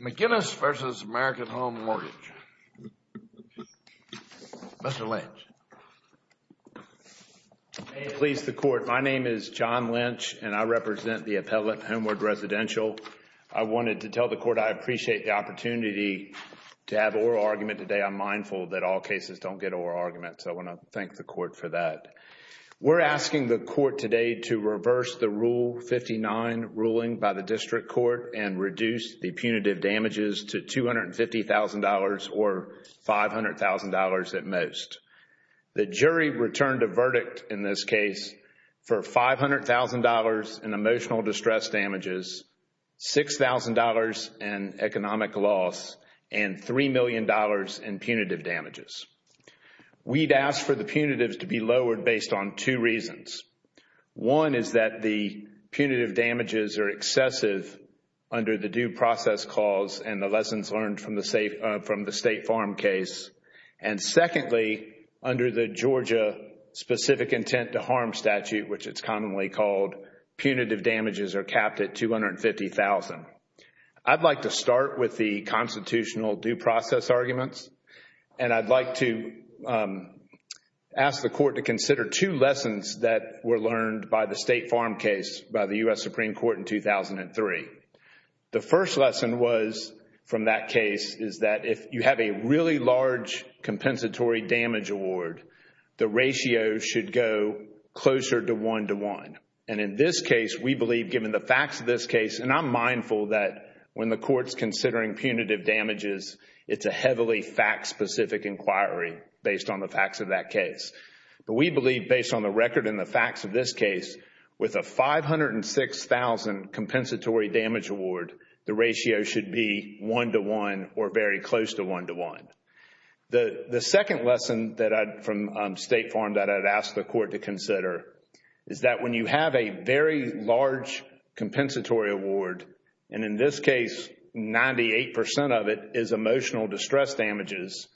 McGinnis v. American Home Mortgage, Mr. Lynch. May it please the Court, my name is John Lynch and I represent the appellate Homeward Residential. I wanted to tell the Court I appreciate the opportunity to have oral argument today. I'm mindful that all cases don't get oral argument, so I want to thank the Court for that. We're asking the Court today to reverse the Rule 59 ruling by the District Court and reduce the punitive damages to $250,000 or $500,000 at most. The jury returned a verdict in this case for $500,000 in emotional distress damages, $6,000 in economic loss, and $3 million in punitive damages. We'd ask for the punitives to be lowered based on two reasons. One is that the punitive damages are excessive under the due process clause and the lessons learned from the State Farm case. And secondly, under the Georgia specific intent to harm statute, which it's commonly called, punitive damages are capped at $250,000. I'd like to start with the constitutional due process arguments and I'd like to ask the Court to consider two lessons that were learned by the State Farm case by the U.S. Supreme Court in 2003. The first lesson was, from that case, is that if you have a really large compensatory damage award, the ratio should go closer to one to one. And in this case, we believe, given the facts of this case, and I'm mindful that when the Court's considering punitive damages, it's a heavily fact-specific inquiry based on the facts of that case. We believe, based on the record and the facts of this case, with a $506,000 compensatory damage award, the ratio should be one to one or very close to one to one. The second lesson from State Farm that I'd ask the Court to consider is that when you have a very large compensatory award, and in this case, 98% of it is emotional distress damages,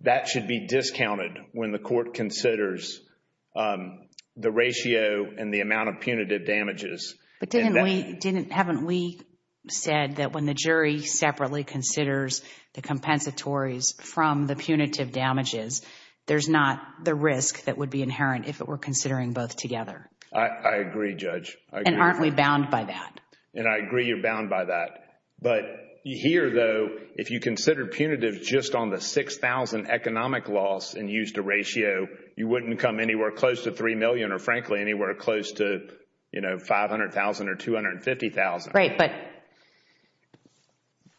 that should be discounted when the Court considers the ratio and the amount of punitive damages. But didn't we, didn't, haven't we said that when the jury separately considers the compensatories from the punitive damages, there's not the risk that would be inherent if it were considering both together? I agree, Judge. I agree. And aren't we bound by that? And I agree you're bound by that. But here, though, if you consider punitive just on the $6,000 economic loss and used a ratio, you wouldn't come anywhere close to $3 million or, frankly, anywhere close to $500,000 or $250,000. Right.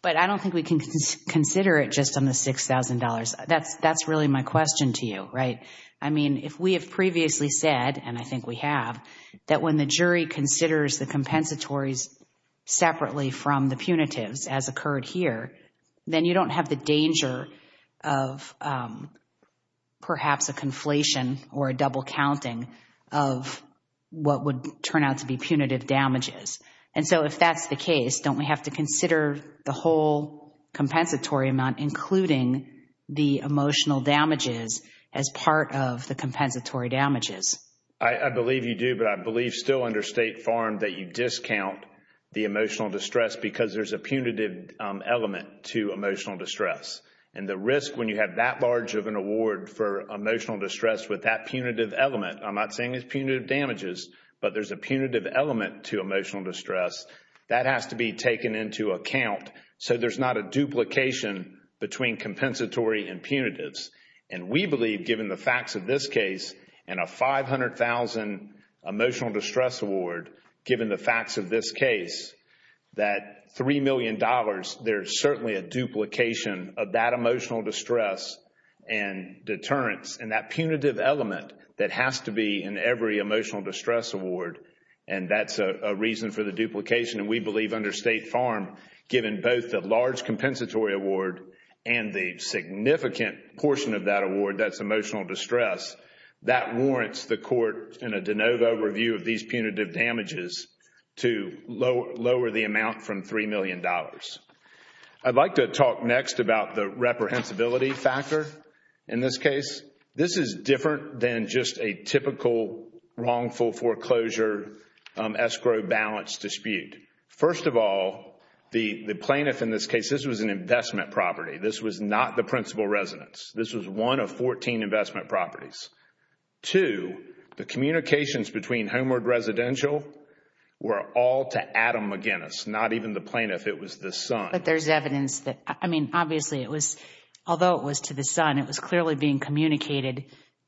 But I don't think we can consider it just on the $6,000. That's really my question to you, right? I mean, if we have previously said, and I think we have, that when the jury considers the compensatories separately from the punitives as occurred here, then you don't have the danger of perhaps a conflation or a double counting of what would turn out to be punitive damages. And so if that's the case, don't we have to consider the whole compensatory amount, including the emotional damages, as part of the compensatory damages? I believe you do, but I believe still under State Farm that you discount the emotional distress because there's a punitive element to emotional distress. And the risk when you have that large of an award for emotional distress with that punitive element, I'm not saying it's punitive damages, but there's a punitive element to emotional distress, that has to be taken into account. So there's not a duplication between compensatory and punitives. And we believe, given the facts of this case, and a $500,000 emotional distress award, given the facts of this case, that $3 million, there's certainly a duplication of that emotional distress and deterrence and that punitive element that has to be in every emotional distress award. And that's a reason for the duplication. And we believe under State Farm, given both the large compensatory award and the significant portion of that award, that's emotional distress, that warrants the court, in a de novo review of these punitive damages, to lower the amount from $3 million. I'd like to talk next about the reprehensibility factor in this case. This is different than just a typical wrongful foreclosure escrow balance dispute. First of all, the plaintiff in this case, this was an investment property. This was not the principal residence. This was one of 14 investment properties. Two, the communications between Homeward Residential were all to Adam McGinnis, not even the plaintiff. It was the son. But there's evidence that, I mean, obviously it was, although it was to the son, it was clearly being communicated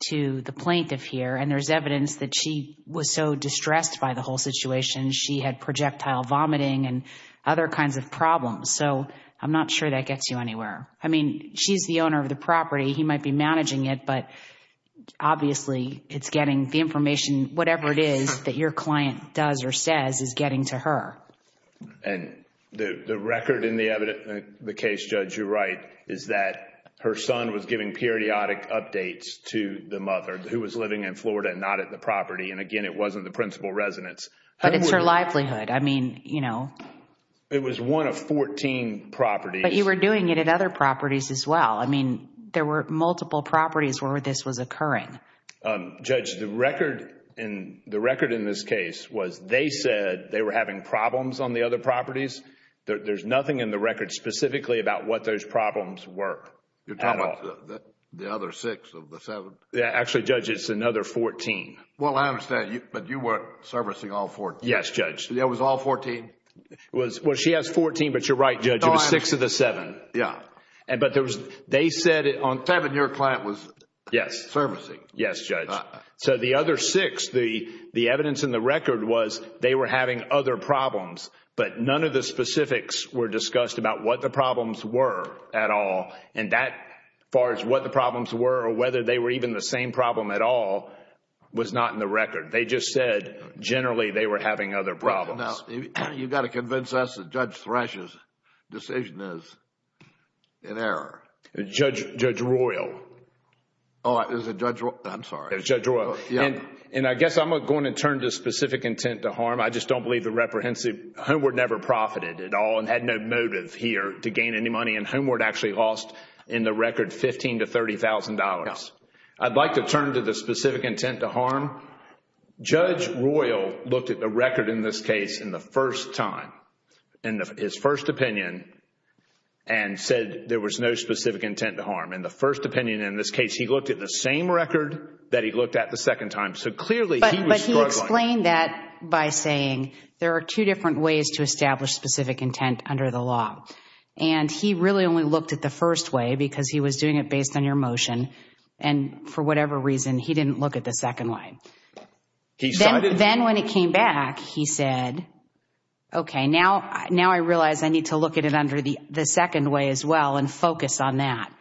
to the plaintiff here. And there's evidence that she was so distressed by the whole situation, she had projectile vomiting and other kinds of problems. So I'm not sure that gets you anywhere. I mean, she's the owner of the property. He might be managing it, but obviously it's getting the information, whatever it is that your client does or says, is getting to her. And the record in the case, Judge, you're right, is that her son was giving periodic updates to the mother who was living in Florida and not at the property. And again, it wasn't the principal residence. But it's her livelihood. I mean, you know. It was one of 14 properties. But you were doing it at other properties as well. I mean, there were multiple properties where this was occurring. Judge, the record in this case was they said they were having problems on the other properties. There's nothing in the record specifically about what those problems were at all. The other six of the seven? Actually, Judge, it's another 14. Well, I understand. But you were servicing all 14? Yes, Judge. It was all 14? Well, she has 14, but you're right, Judge. It was six of the seven. But they said it on... Yes, Judge. So the other six, the evidence in the record was they were having other problems. But none of the specifics were discussed about what the problems were at all. And that, as far as what the problems were or whether they were even the same problem at all, was not in the record. They just said generally they were having other problems. Now, you've got to convince us that Judge Thrash's decision is in error. Judge Royal. Oh, it was Judge Royal? I'm sorry. It was Judge Royal. Yes. And I guess I'm going to turn to specific intent to harm. I just don't believe the reprehensive... Homeward never profited at all and had no motive here to gain any money, and Homeward actually lost in the record $15,000 to $30,000. I'd like to turn to the specific intent to harm. Judge Royal looked at the record in this case in the first time, in his first opinion, and said there was no specific intent to harm. In the first opinion, in this case, he looked at the same record that he looked at the second time. So clearly, he was struggling. But he explained that by saying there are two different ways to establish specific intent under the law. And he really only looked at the first way because he was doing it based on your motion, and for whatever reason, he didn't look at the second way. Then when it came back, he said, okay, now I realize I need to look at it under the second way as well and focus on that.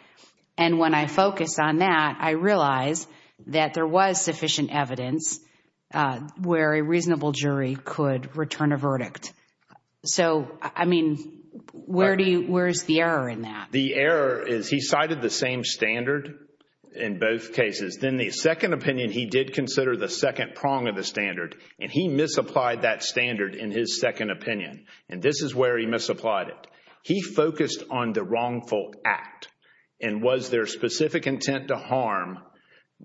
And when I focus on that, I realize that there was sufficient evidence where a reasonable jury could return a verdict. So I mean, where is the error in that? The error is he cited the same standard in both cases. Then the second opinion, he did consider the second prong of the standard, and he misapplied that standard in his second opinion. And this is where he misapplied it. He focused on the wrongful act and was there specific intent to harm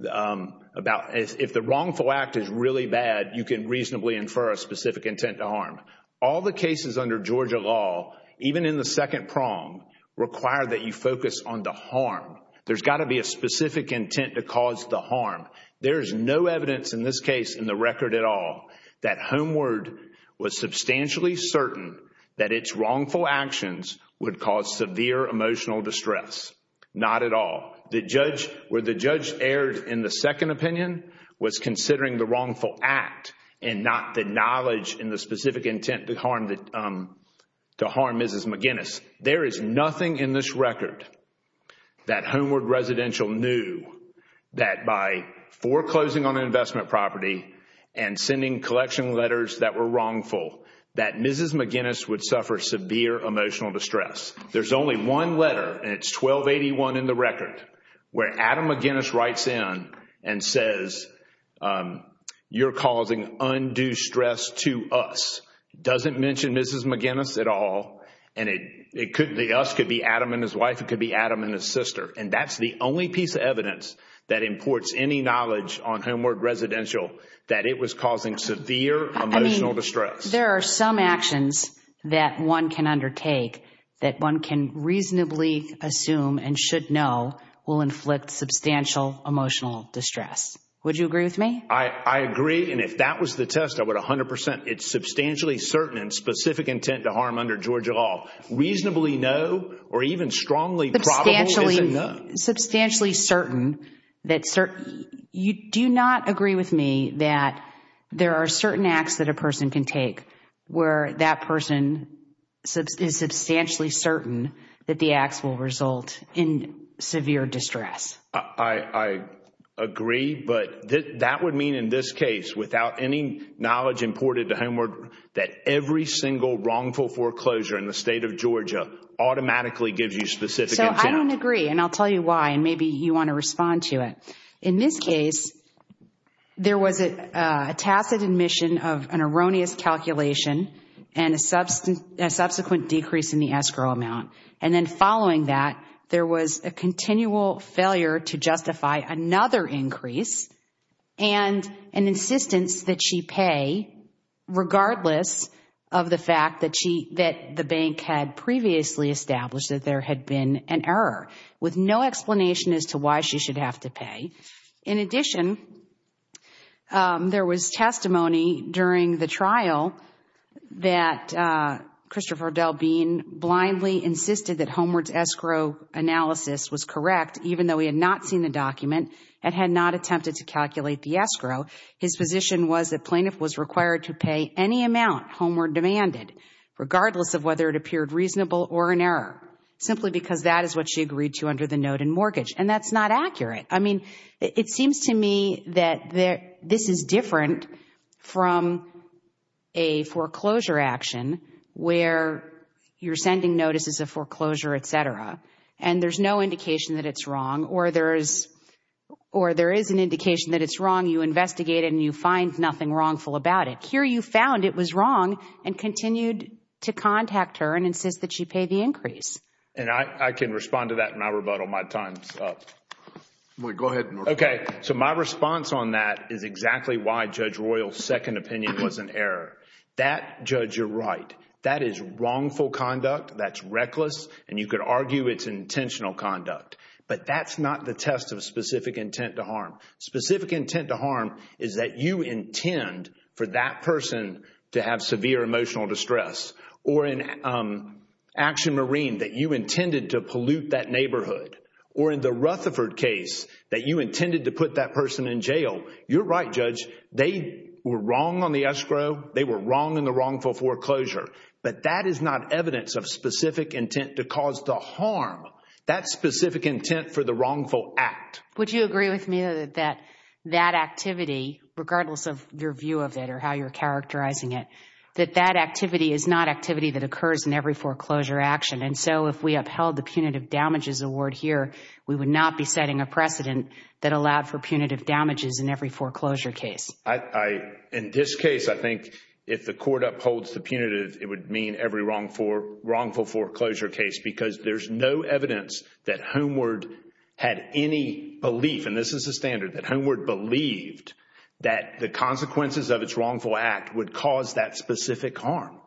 about if the wrongful act is really bad, you can reasonably infer a specific intent to harm. All the cases under Georgia law, even in the second prong, require that you focus on the harm. There's got to be a specific intent to cause the harm. There's no evidence in this case in the record at all that Homeward was substantially certain that its wrongful actions would cause severe emotional distress. Not at all. The judge, where the judge erred in the second opinion, was considering the wrongful act and not the knowledge and the specific intent to harm Mrs. McGinnis. There is nothing in this record that Homeward Residential knew that by foreclosing on an item, Mrs. McGinnis would suffer severe emotional distress. There's only one letter, and it's 1281 in the record, where Adam McGinnis writes in and says, you're causing undue stress to us. Doesn't mention Mrs. McGinnis at all, and the us could be Adam and his wife, it could be Adam and his sister. And that's the only piece of evidence that imports any knowledge on Homeward Residential that it was causing severe emotional distress. There are some actions that one can undertake that one can reasonably assume and should know will inflict substantial emotional distress. Would you agree with me? I agree, and if that was the test, I would 100%. It's substantially certain and specific intent to harm under Georgia law. Reasonably no or even strongly probable is a no. Substantially certain. You do not agree with me that there are certain acts that a person can take where that person is substantially certain that the acts will result in severe distress. I agree, but that would mean in this case without any knowledge imported to Homeward that every single wrongful foreclosure in the state of Georgia automatically gives you specific intent. I don't agree, and I'll tell you why, and maybe you want to respond to it. In this case, there was a tacit admission of an erroneous calculation and a subsequent decrease in the escrow amount. And then following that, there was a continual failure to justify another increase and an insistence that she pay regardless of the fact that the bank had previously established that there had been an error with no explanation as to why she should have to pay. In addition, there was testimony during the trial that Christopher Dell Bean blindly insisted that Homeward's escrow analysis was correct even though he had not seen the document and had not attempted to calculate the escrow. His position was that plaintiff was required to pay any amount Homeward demanded regardless of whether it appeared reasonable or an error, simply because that is what she agreed to under the note and mortgage. And that's not accurate. I mean, it seems to me that this is different from a foreclosure action where you're sending notices of foreclosure, et cetera, and there's no indication that it's wrong or there is an indication that it's wrong. You investigate it and you find nothing wrongful about it. But here you found it was wrong and continued to contact her and insist that she pay the increase. And I can respond to that in my rebuttal. My time's up. Go ahead. Okay. So, my response on that is exactly why Judge Royal's second opinion was an error. That, Judge, you're right. That is wrongful conduct. That's reckless. And you could argue it's intentional conduct. But that's not the test of specific intent to harm. Specific intent to harm is that you intend for that person to have severe emotional distress. Or in Action Marine, that you intended to pollute that neighborhood. Or in the Rutherford case, that you intended to put that person in jail. You're right, Judge. They were wrong on the escrow. They were wrong in the wrongful foreclosure. But that is not evidence of specific intent to cause the harm. That's specific intent for the wrongful act. Would you agree with me that that activity, regardless of your view of it or how you're characterizing it, that that activity is not activity that occurs in every foreclosure action? And so, if we upheld the punitive damages award here, we would not be setting a precedent that allowed for punitive damages in every foreclosure case? In this case, I think if the court upholds the punitive, it would mean every wrongful foreclosure case because there's no evidence that Homeward had any belief, and this is the standard, that Homeward believed that the consequences of its wrongful act would cause that specific harm.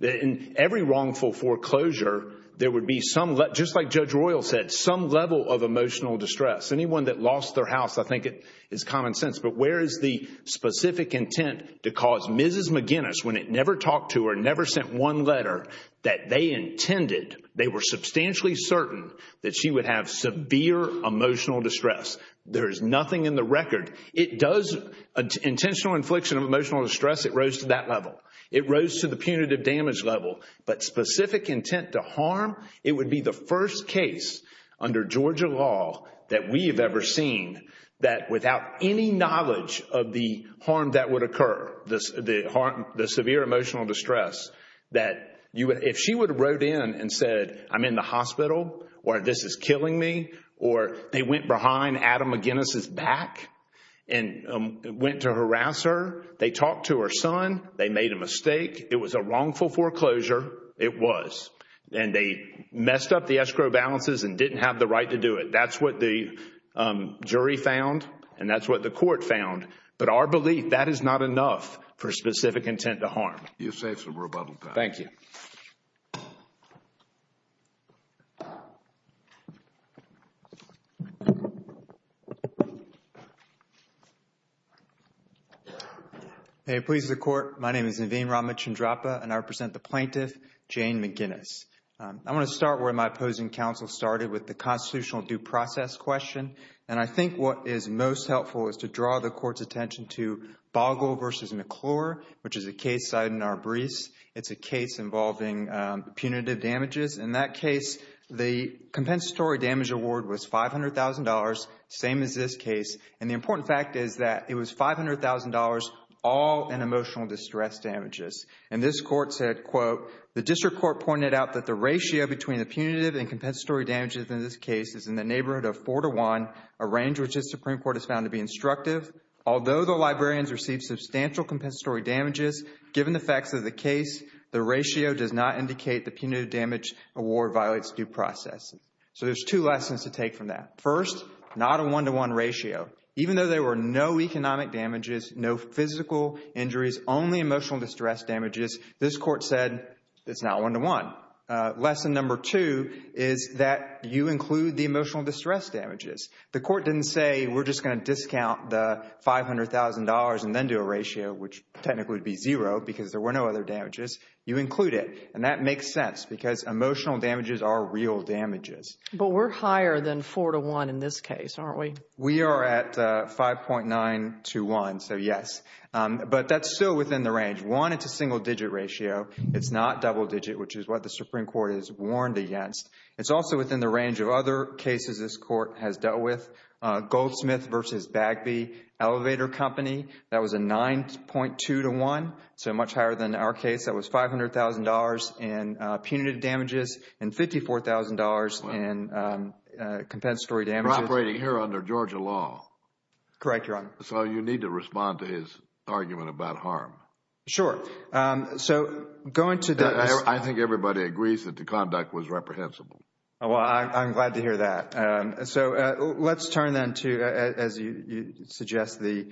In every wrongful foreclosure, there would be some, just like Judge Royal said, some level of emotional distress. Anyone that lost their house, I think it's common sense. But where is the specific intent to cause Mrs. McGinnis, when it never talked to her, when it never sent one letter that they intended, they were substantially certain that she would have severe emotional distress? There's nothing in the record. It does, intentional infliction of emotional distress, it rose to that level. It rose to the punitive damage level. But specific intent to harm, it would be the first case under Georgia law that we have ever seen that without any knowledge of the harm that would occur, the severe emotional distress, that if she would have wrote in and said, I'm in the hospital, or this is killing me, or they went behind Adam McGinnis' back and went to harass her, they talked to her son, they made a mistake, it was a wrongful foreclosure, it was. And they messed up the escrow balances and didn't have the right to do it. That's what the jury found, and that's what the court found. But our belief, that is not enough for specific intent to harm. You've saved some rebuttal time. Thank you. Hey, please, the Court. My name is Naveen Ramachandrappa, and I represent the plaintiff, Jane McGinnis. I want to start where my opposing counsel started with the constitutional due process question, and I think what is most helpful is to draw the Court's attention to Boggle v. McClure, which is a case cited in our briefs. It's a case involving punitive damages. In that case, the compensatory damage award was $500,000, same as this case. And the important fact is that it was $500,000 all in emotional distress damages. And this Court said, quote, the District Court pointed out that the ratio between the punitive and compensatory damages in this case is in the neighborhood of four to one, a range which the Supreme Court has found to be instructive. Although the librarians received substantial compensatory damages, given the facts of the case, the ratio does not indicate the punitive damage award violates due process. So there's two lessons to take from that. First, not a one-to-one ratio. Even though there were no economic damages, no physical injuries, only emotional distress damages, this Court said it's not one-to-one. Lesson number two is that you include the emotional distress damages. The Court didn't say, we're just going to discount the $500,000 and then do a ratio, which technically would be zero because there were no other damages. You include it. And that makes sense because emotional damages are real damages. But we're higher than four to one in this case, aren't we? We are at 5.9 to one, so yes. But that's still within the range. One, it's a single-digit ratio. It's not double-digit, which is what the Supreme Court has warned against. It's also within the range of other cases this Court has dealt with. Goldsmith v. Bagby Elevator Company, that was a 9.2 to one, so much higher than our case. That was $500,000 in punitive damages and $54,000 in compensatory damages. You're operating here under Georgia law. Correct, Your Honor. So you need to respond to his argument about harm. Sure. So going to the I think everybody agrees that the conduct was reprehensible. Well, I'm glad to hear that. So let's turn then to, as you suggest, the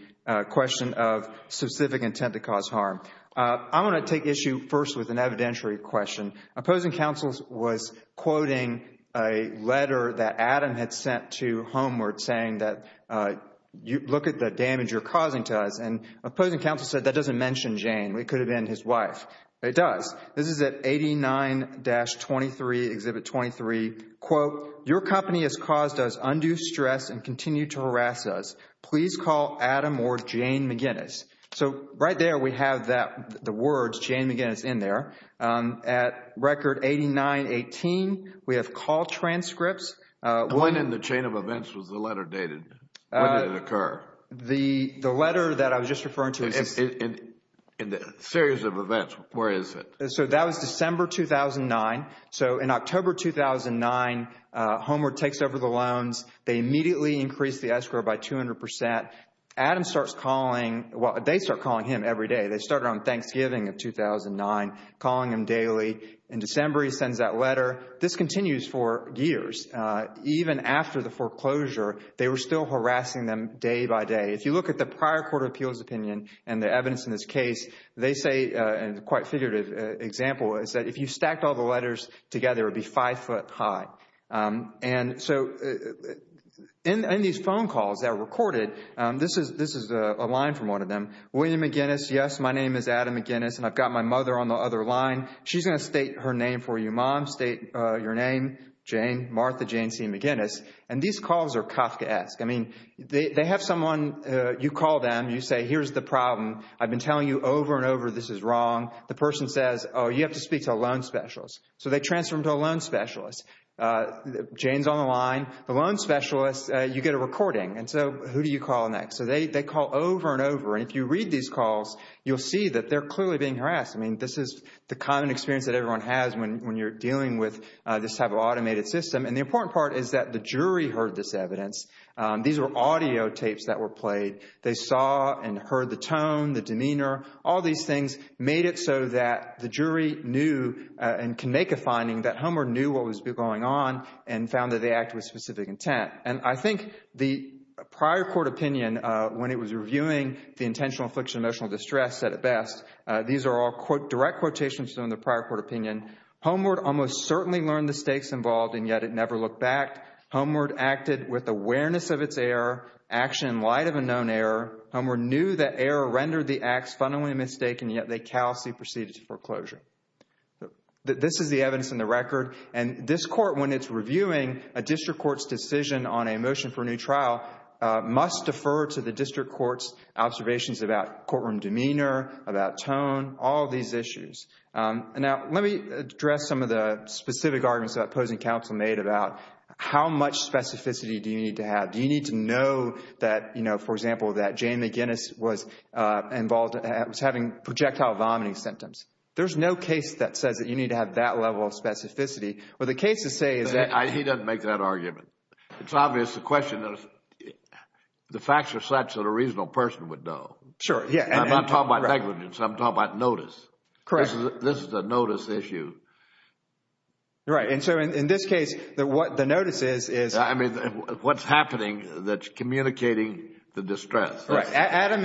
question of specific intent to cause harm. I want to take issue first with an evidentiary question. Opposing counsel was quoting a letter that Adam had sent to Homeward saying that, look at the damage you're causing to us. And opposing counsel said that doesn't mention Jane. It could have been his wife. It does. This is at 89-23, Exhibit 23, quote, your company has caused us undue stress and continue to harass us. Please call Adam or Jane McGinnis. So right there we have the words Jane McGinnis in there. At record 89-18, we have call transcripts. When in the chain of events was the letter dated? When did it occur? The letter that I was just referring to is In the series of events, where is it? So that was December 2009. So in October 2009, Homeward takes over the loans. They immediately increase the escrow by 200%. Adam starts calling, well, they start calling him every day. They started on Thanksgiving of 2009, calling him daily. In December, he sends that letter. This continues for years. Even after the foreclosure, they were still harassing them day by day. If you look at the prior Court of Appeals opinion and the evidence in this case, they say and quite figurative example is that if you stacked all the letters together, it would be five foot high. And so in these phone calls that were recorded, this is a line from one of them. William McGinnis, yes, my name is Adam McGinnis and I've got my mother on the other line. She's going to state her name for you, Mom. I'm going to state your name, Jane, Martha Jane C. McGinnis. And these calls are Kafkaesque. I mean, they have someone, you call them, you say, here's the problem. I've been telling you over and over this is wrong. The person says, oh, you have to speak to a loan specialist. So they transfer them to a loan specialist. Jane's on the line. The loan specialist, you get a recording. And so who do you call next? So they call over and over and if you read these calls, you'll see that they're clearly being harassed. I mean, this is the common experience that everyone has when you're dealing with this type of automated system. And the important part is that the jury heard this evidence. These were audio tapes that were played. They saw and heard the tone, the demeanor, all these things, made it so that the jury knew and can make a finding that Homer knew what was going on and found that they acted with specific intent. And I think the prior court opinion when it was reviewing the intentional affliction of emotional distress said it best. These are all direct quotations from the prior court opinion. Homer almost certainly learned the stakes involved and yet it never looked back. Homer acted with awareness of its error, action in light of a known error. Homer knew that error rendered the acts fundamentally mistaken yet they callously proceeded to foreclosure. This is the evidence in the record and this court when it's reviewing a district court's decision on a motion for a new trial must defer to the district court's observations about courtroom demeanor, about tone, all these issues. Now let me address some of the specific arguments the opposing counsel made about how much specificity do you need to have. Do you need to know that, you know, for example, that Jane McGinnis was involved, was having projectile vomiting symptoms? There's no case that says that you need to have that level of specificity. But the case to say is that... He doesn't make that argument. It's obvious the question is the facts are such that a reasonable person would know. Sure, yeah. I'm not talking about negligence. I'm talking about notice. Correct. This is a notice issue. Right. And so in this case, the notice is... I mean, what's happening that's communicating the distress. Right. Adam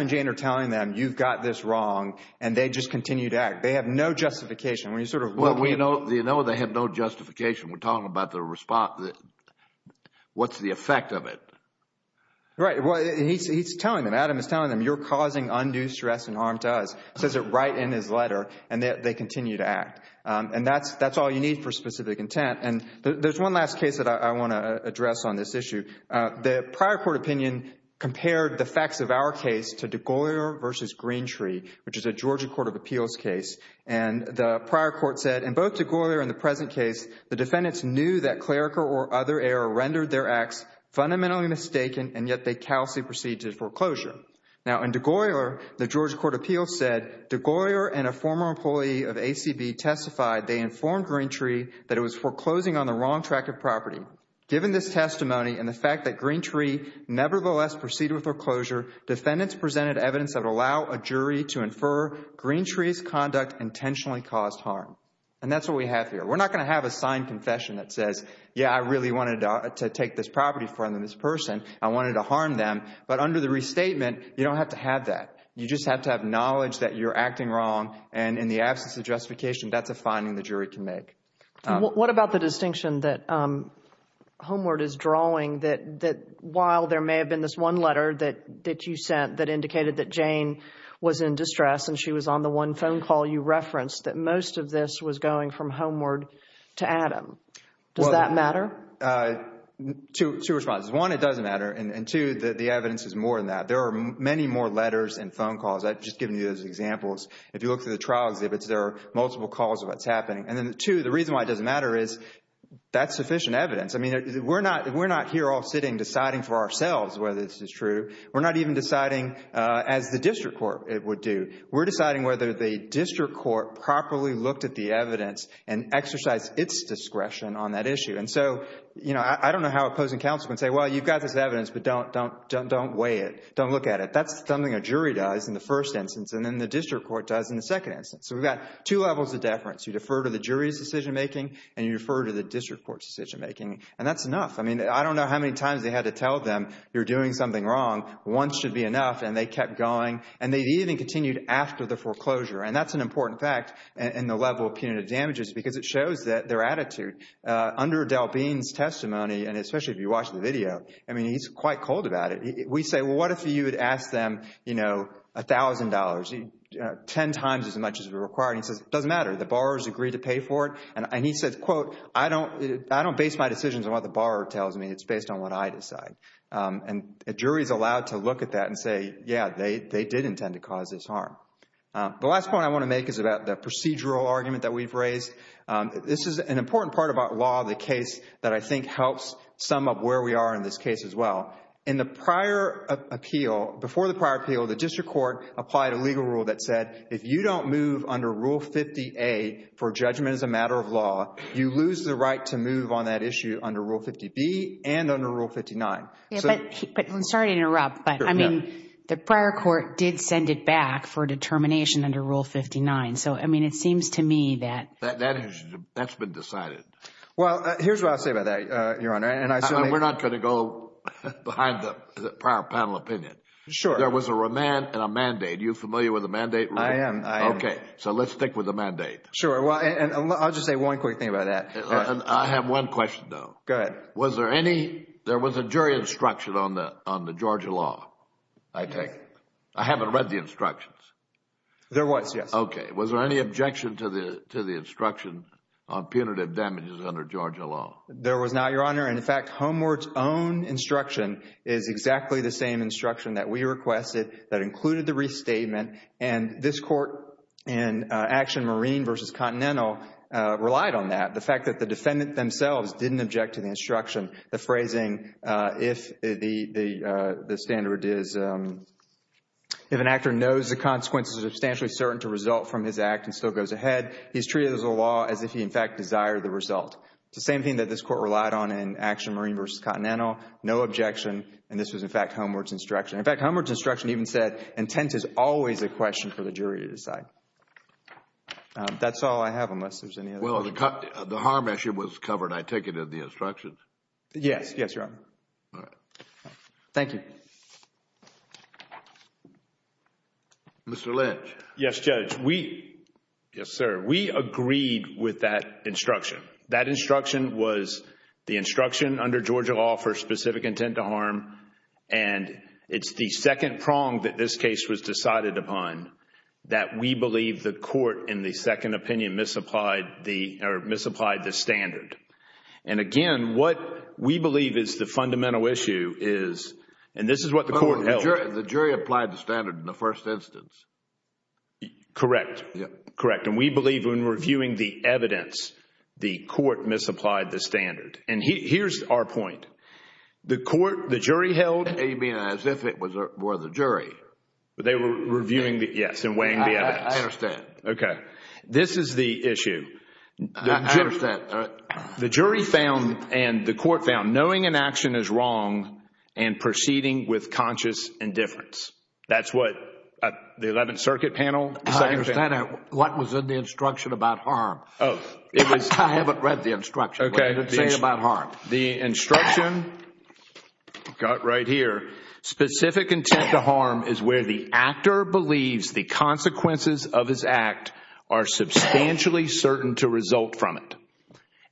and Jane are telling them you've got this wrong and they just continue to act. They have no justification. We're sort of looking... Well, we know they have no justification. We're talking about the response... What's the effect of it? Right. Well, he's telling them. Adam is telling them you're causing undue stress and harm to us. He says it right in his letter and they continue to act. And that's all you need for specific intent. And there's one last case that I want to address on this issue. The prior court opinion compared the facts of our case to DeGaulier v. Greentree, which is a Georgia Court of Appeals case. And the prior court said... intentionally caused harm. And that's what we have here. We're not going to have a signed confession that says, yeah, I really wanted to take this property from this person. I wanted to harm them. But under the restatement, you don't have to have that. You just have to have knowledge that you're acting wrong. And in the absence of justification, that's a finding the jury can make. What about the distinction that Homeward is drawing that while there may have been this one letter that you sent that indicated that Jane was in distress and she was on the one phone call you referenced that most of this was going from Homeward to Adam. Does that matter? Two responses. One, it doesn't matter. And two, the evidence is more than that. There are many more letters and phone calls. I've just given you those examples. If you look through the trial exhibits, there are multiple calls of what's happening. And then two, the reason why it doesn't matter is that's sufficient evidence. I mean, we're not here all sitting deciding for ourselves whether this is true. We're not even deciding as the district court would do. We're deciding whether the district court properly looked at the evidence and exercised its discretion on that issue. And so, you know, I don't know how opposing counsel can say, well, you've got this evidence, but don't weigh it. Don't look at it. That's something a jury does in the first instance and then the district court does in the second instance. So we've got two levels of deference. You defer to the jury's decision making and you defer to the district court's decision making. And that's enough. I mean, I don't know how many times they had to tell them you're doing something wrong. One should be enough. And they kept going. And they even continued after the foreclosure. And that's an important fact in the level of punitive damages because it shows that their attitude under Adele Bean's testimony, and especially if you watch the video, I mean, he's quite cold about it. We say, well, what if you had asked them, you know, $1,000, 10 times as much as required? He says, it doesn't matter. The borrowers agreed to pay for it. And he says, quote, I don't base my decisions on what the borrower tells me. It's based on what I decide. And a jury is allowed to look at that and say, yeah, they did intend to cause this harm. The last point I want to make is about the procedural argument that we've raised. This is an important part about law, the case that I think helps sum up where we are in this case as well. In the prior appeal, before the prior appeal, the district court applied a legal rule that said, if you don't move under Rule 50A for judgment as a matter of law, you lose the right to move on that issue under Rule 50B and under Rule 59. Yeah, but, I'm sorry to interrupt, but I mean, the prior court did send it back for determination under Rule 59. So, I mean, it seems to me that... That's been decided. Well, here's what I'll say about that, Your Honor. And I certainly... We're not going to go behind the prior panel opinion. Sure. There was a remand and a mandate. Are you familiar with the mandate rule? I am. I am. Okay. So, let's stick with the mandate. Sure. And I'll just say one quick thing about that. I have one question, though. Go ahead. Was there any... There was a jury instruction on the Georgia law, I take. I haven't read the instructions. There was, yes. Okay. Was there any objection to the instruction on punitive damages under Georgia law? There was not, Your Honor. And in fact, Homeward's own instruction is exactly the same instruction that we requested that included the restatement. And this Court in Action Marine v. Continental relied on that. The fact that the defendant themselves didn't object to the instruction. The phrasing, if the standard is, if an actor knows the consequences are substantially certain to result from his act and still goes ahead, he's treated as a law as if he, in fact, desired the result. It's the same thing that this Court relied on in Action Marine v. Continental. No objection. And this was, in fact, Homeward's instruction. In fact, Homeward's instruction even said intent is always a question for the jury to decide. That's all I have unless there's any other... Well, the harm issue was covered, I take it, in the instructions? Yes. Yes, Your Honor. All right. Thank you. Mr. Lynch. Yes, Judge. We... We agreed with that instruction. That instruction was the instruction under Georgia law for specific intent to harm. And it's the second prong that this case was decided upon that we believe the Court, in the second opinion, misapplied the, or misapplied the standard. And again, what we believe is the fundamental issue is, and this is what the Court held... The jury applied the standard in the first instance. Correct. Correct. And we believe when reviewing the evidence, the Court misapplied the standard. And here's our point. The Court, the jury held... A, B, and I, as if it were the jury. They were reviewing the... Yes. And weighing the evidence. I understand. Okay. This is the issue. I understand. All right. The jury found, and the Court found, knowing an action is wrong and proceeding with conscious indifference. That's what the Eleventh Circuit panel decided... I understand. What was in the instruction about harm? Oh. It was... I haven't read the instruction. Okay. What did it say about harm? The instruction, got right here, specific intent to harm is where the actor believes the consequences of his act are substantially certain to result from it.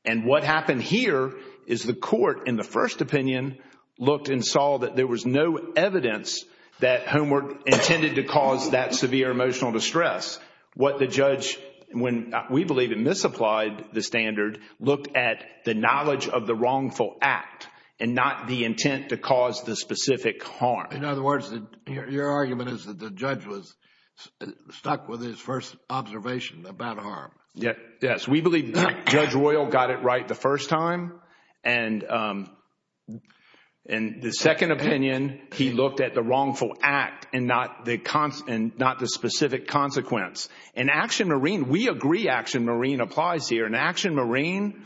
And what happened here is the Court, in the first opinion, looked and saw that there was no evidence that homework intended to cause that severe emotional distress. What the judge, when we believe it misapplied the standard, looked at the knowledge of the wrongful act and not the intent to cause the specific harm. In other words, your argument is that the judge was stuck with his first observation about harm. Yes. We believe Judge Royal got it right the first time. And in the second opinion, he looked at the wrongful act and not the specific consequence. In Action Marine, we agree Action Marine applies here. In Action Marine,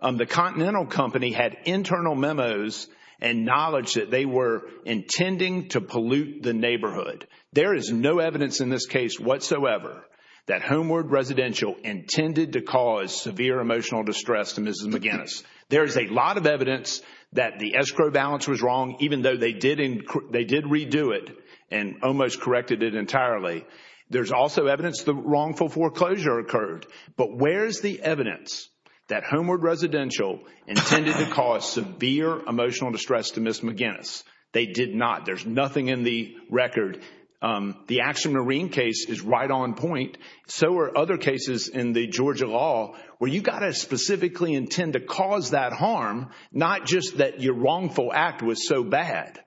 the Continental Company had internal memos and knowledge that they were intending to pollute the neighborhood. There is no evidence in this case whatsoever that homeward residential intended to cause severe emotional distress to Mrs. McGinnis. There is a lot of evidence that the escrow balance was wrong, even though they did redo it and almost corrected it entirely. There's also evidence the wrongful foreclosure occurred. But where's the evidence that homeward residential intended to cause severe emotional distress to Mrs. McGinnis? They did not. There's nothing in the record. The Action Marine case is right on point. So are other cases in the Georgia law where you've got to specifically intend to cause that harm, not just that your wrongful act was so bad.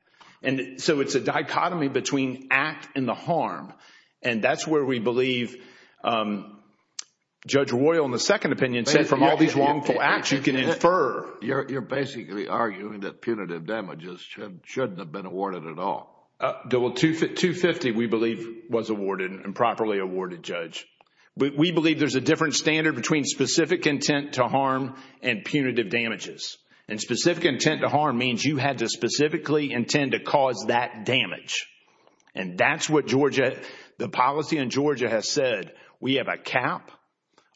And so it's a dichotomy between act and the harm. And that's where we believe Judge Royal in the second opinion said from all these wrongful acts, you can infer... You're basically arguing that punitive damages shouldn't have been awarded at all. 250, we believe, was awarded and properly awarded, Judge. We believe there's a different standard between specific intent to harm and punitive damages. And specific intent to harm means you had to specifically intend to cause that damage. And that's what the policy in Georgia has said. We have a cap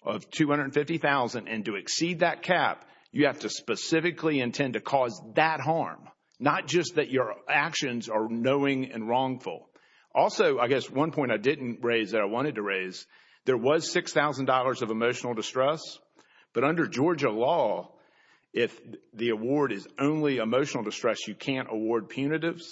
of $250,000 and to exceed that cap, you have to specifically intend to cause that harm, not just that your actions are knowing and wrongful. Also, I guess one point I didn't raise that I wanted to raise, there was $6,000 of emotional distress. But under Georgia law, if the award is only emotional distress, you can't award punitives.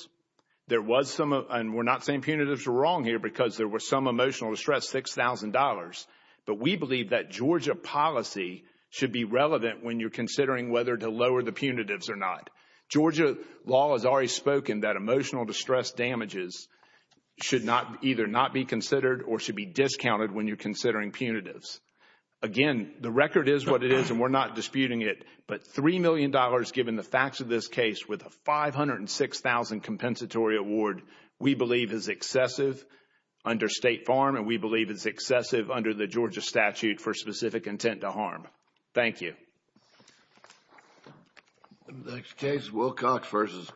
There was some... and we're not saying punitives are wrong here because there was some emotional distress, $6,000. But we believe that Georgia policy should be relevant when you're considering whether to lower the punitives or not. Georgia law has already spoken that emotional distress damages should not... either not be considered or should be discounted when you're considering punitives. Again, the record is what it is and we're not disputing it. But $3 million, given the facts of this case, with a $506,000 compensatory award, we believe is excessive under State Farm and we believe it's excessive under the Georgia statute for specific intent to harm. Thank you. Thank you. Thank you. Next case, Wilcox v.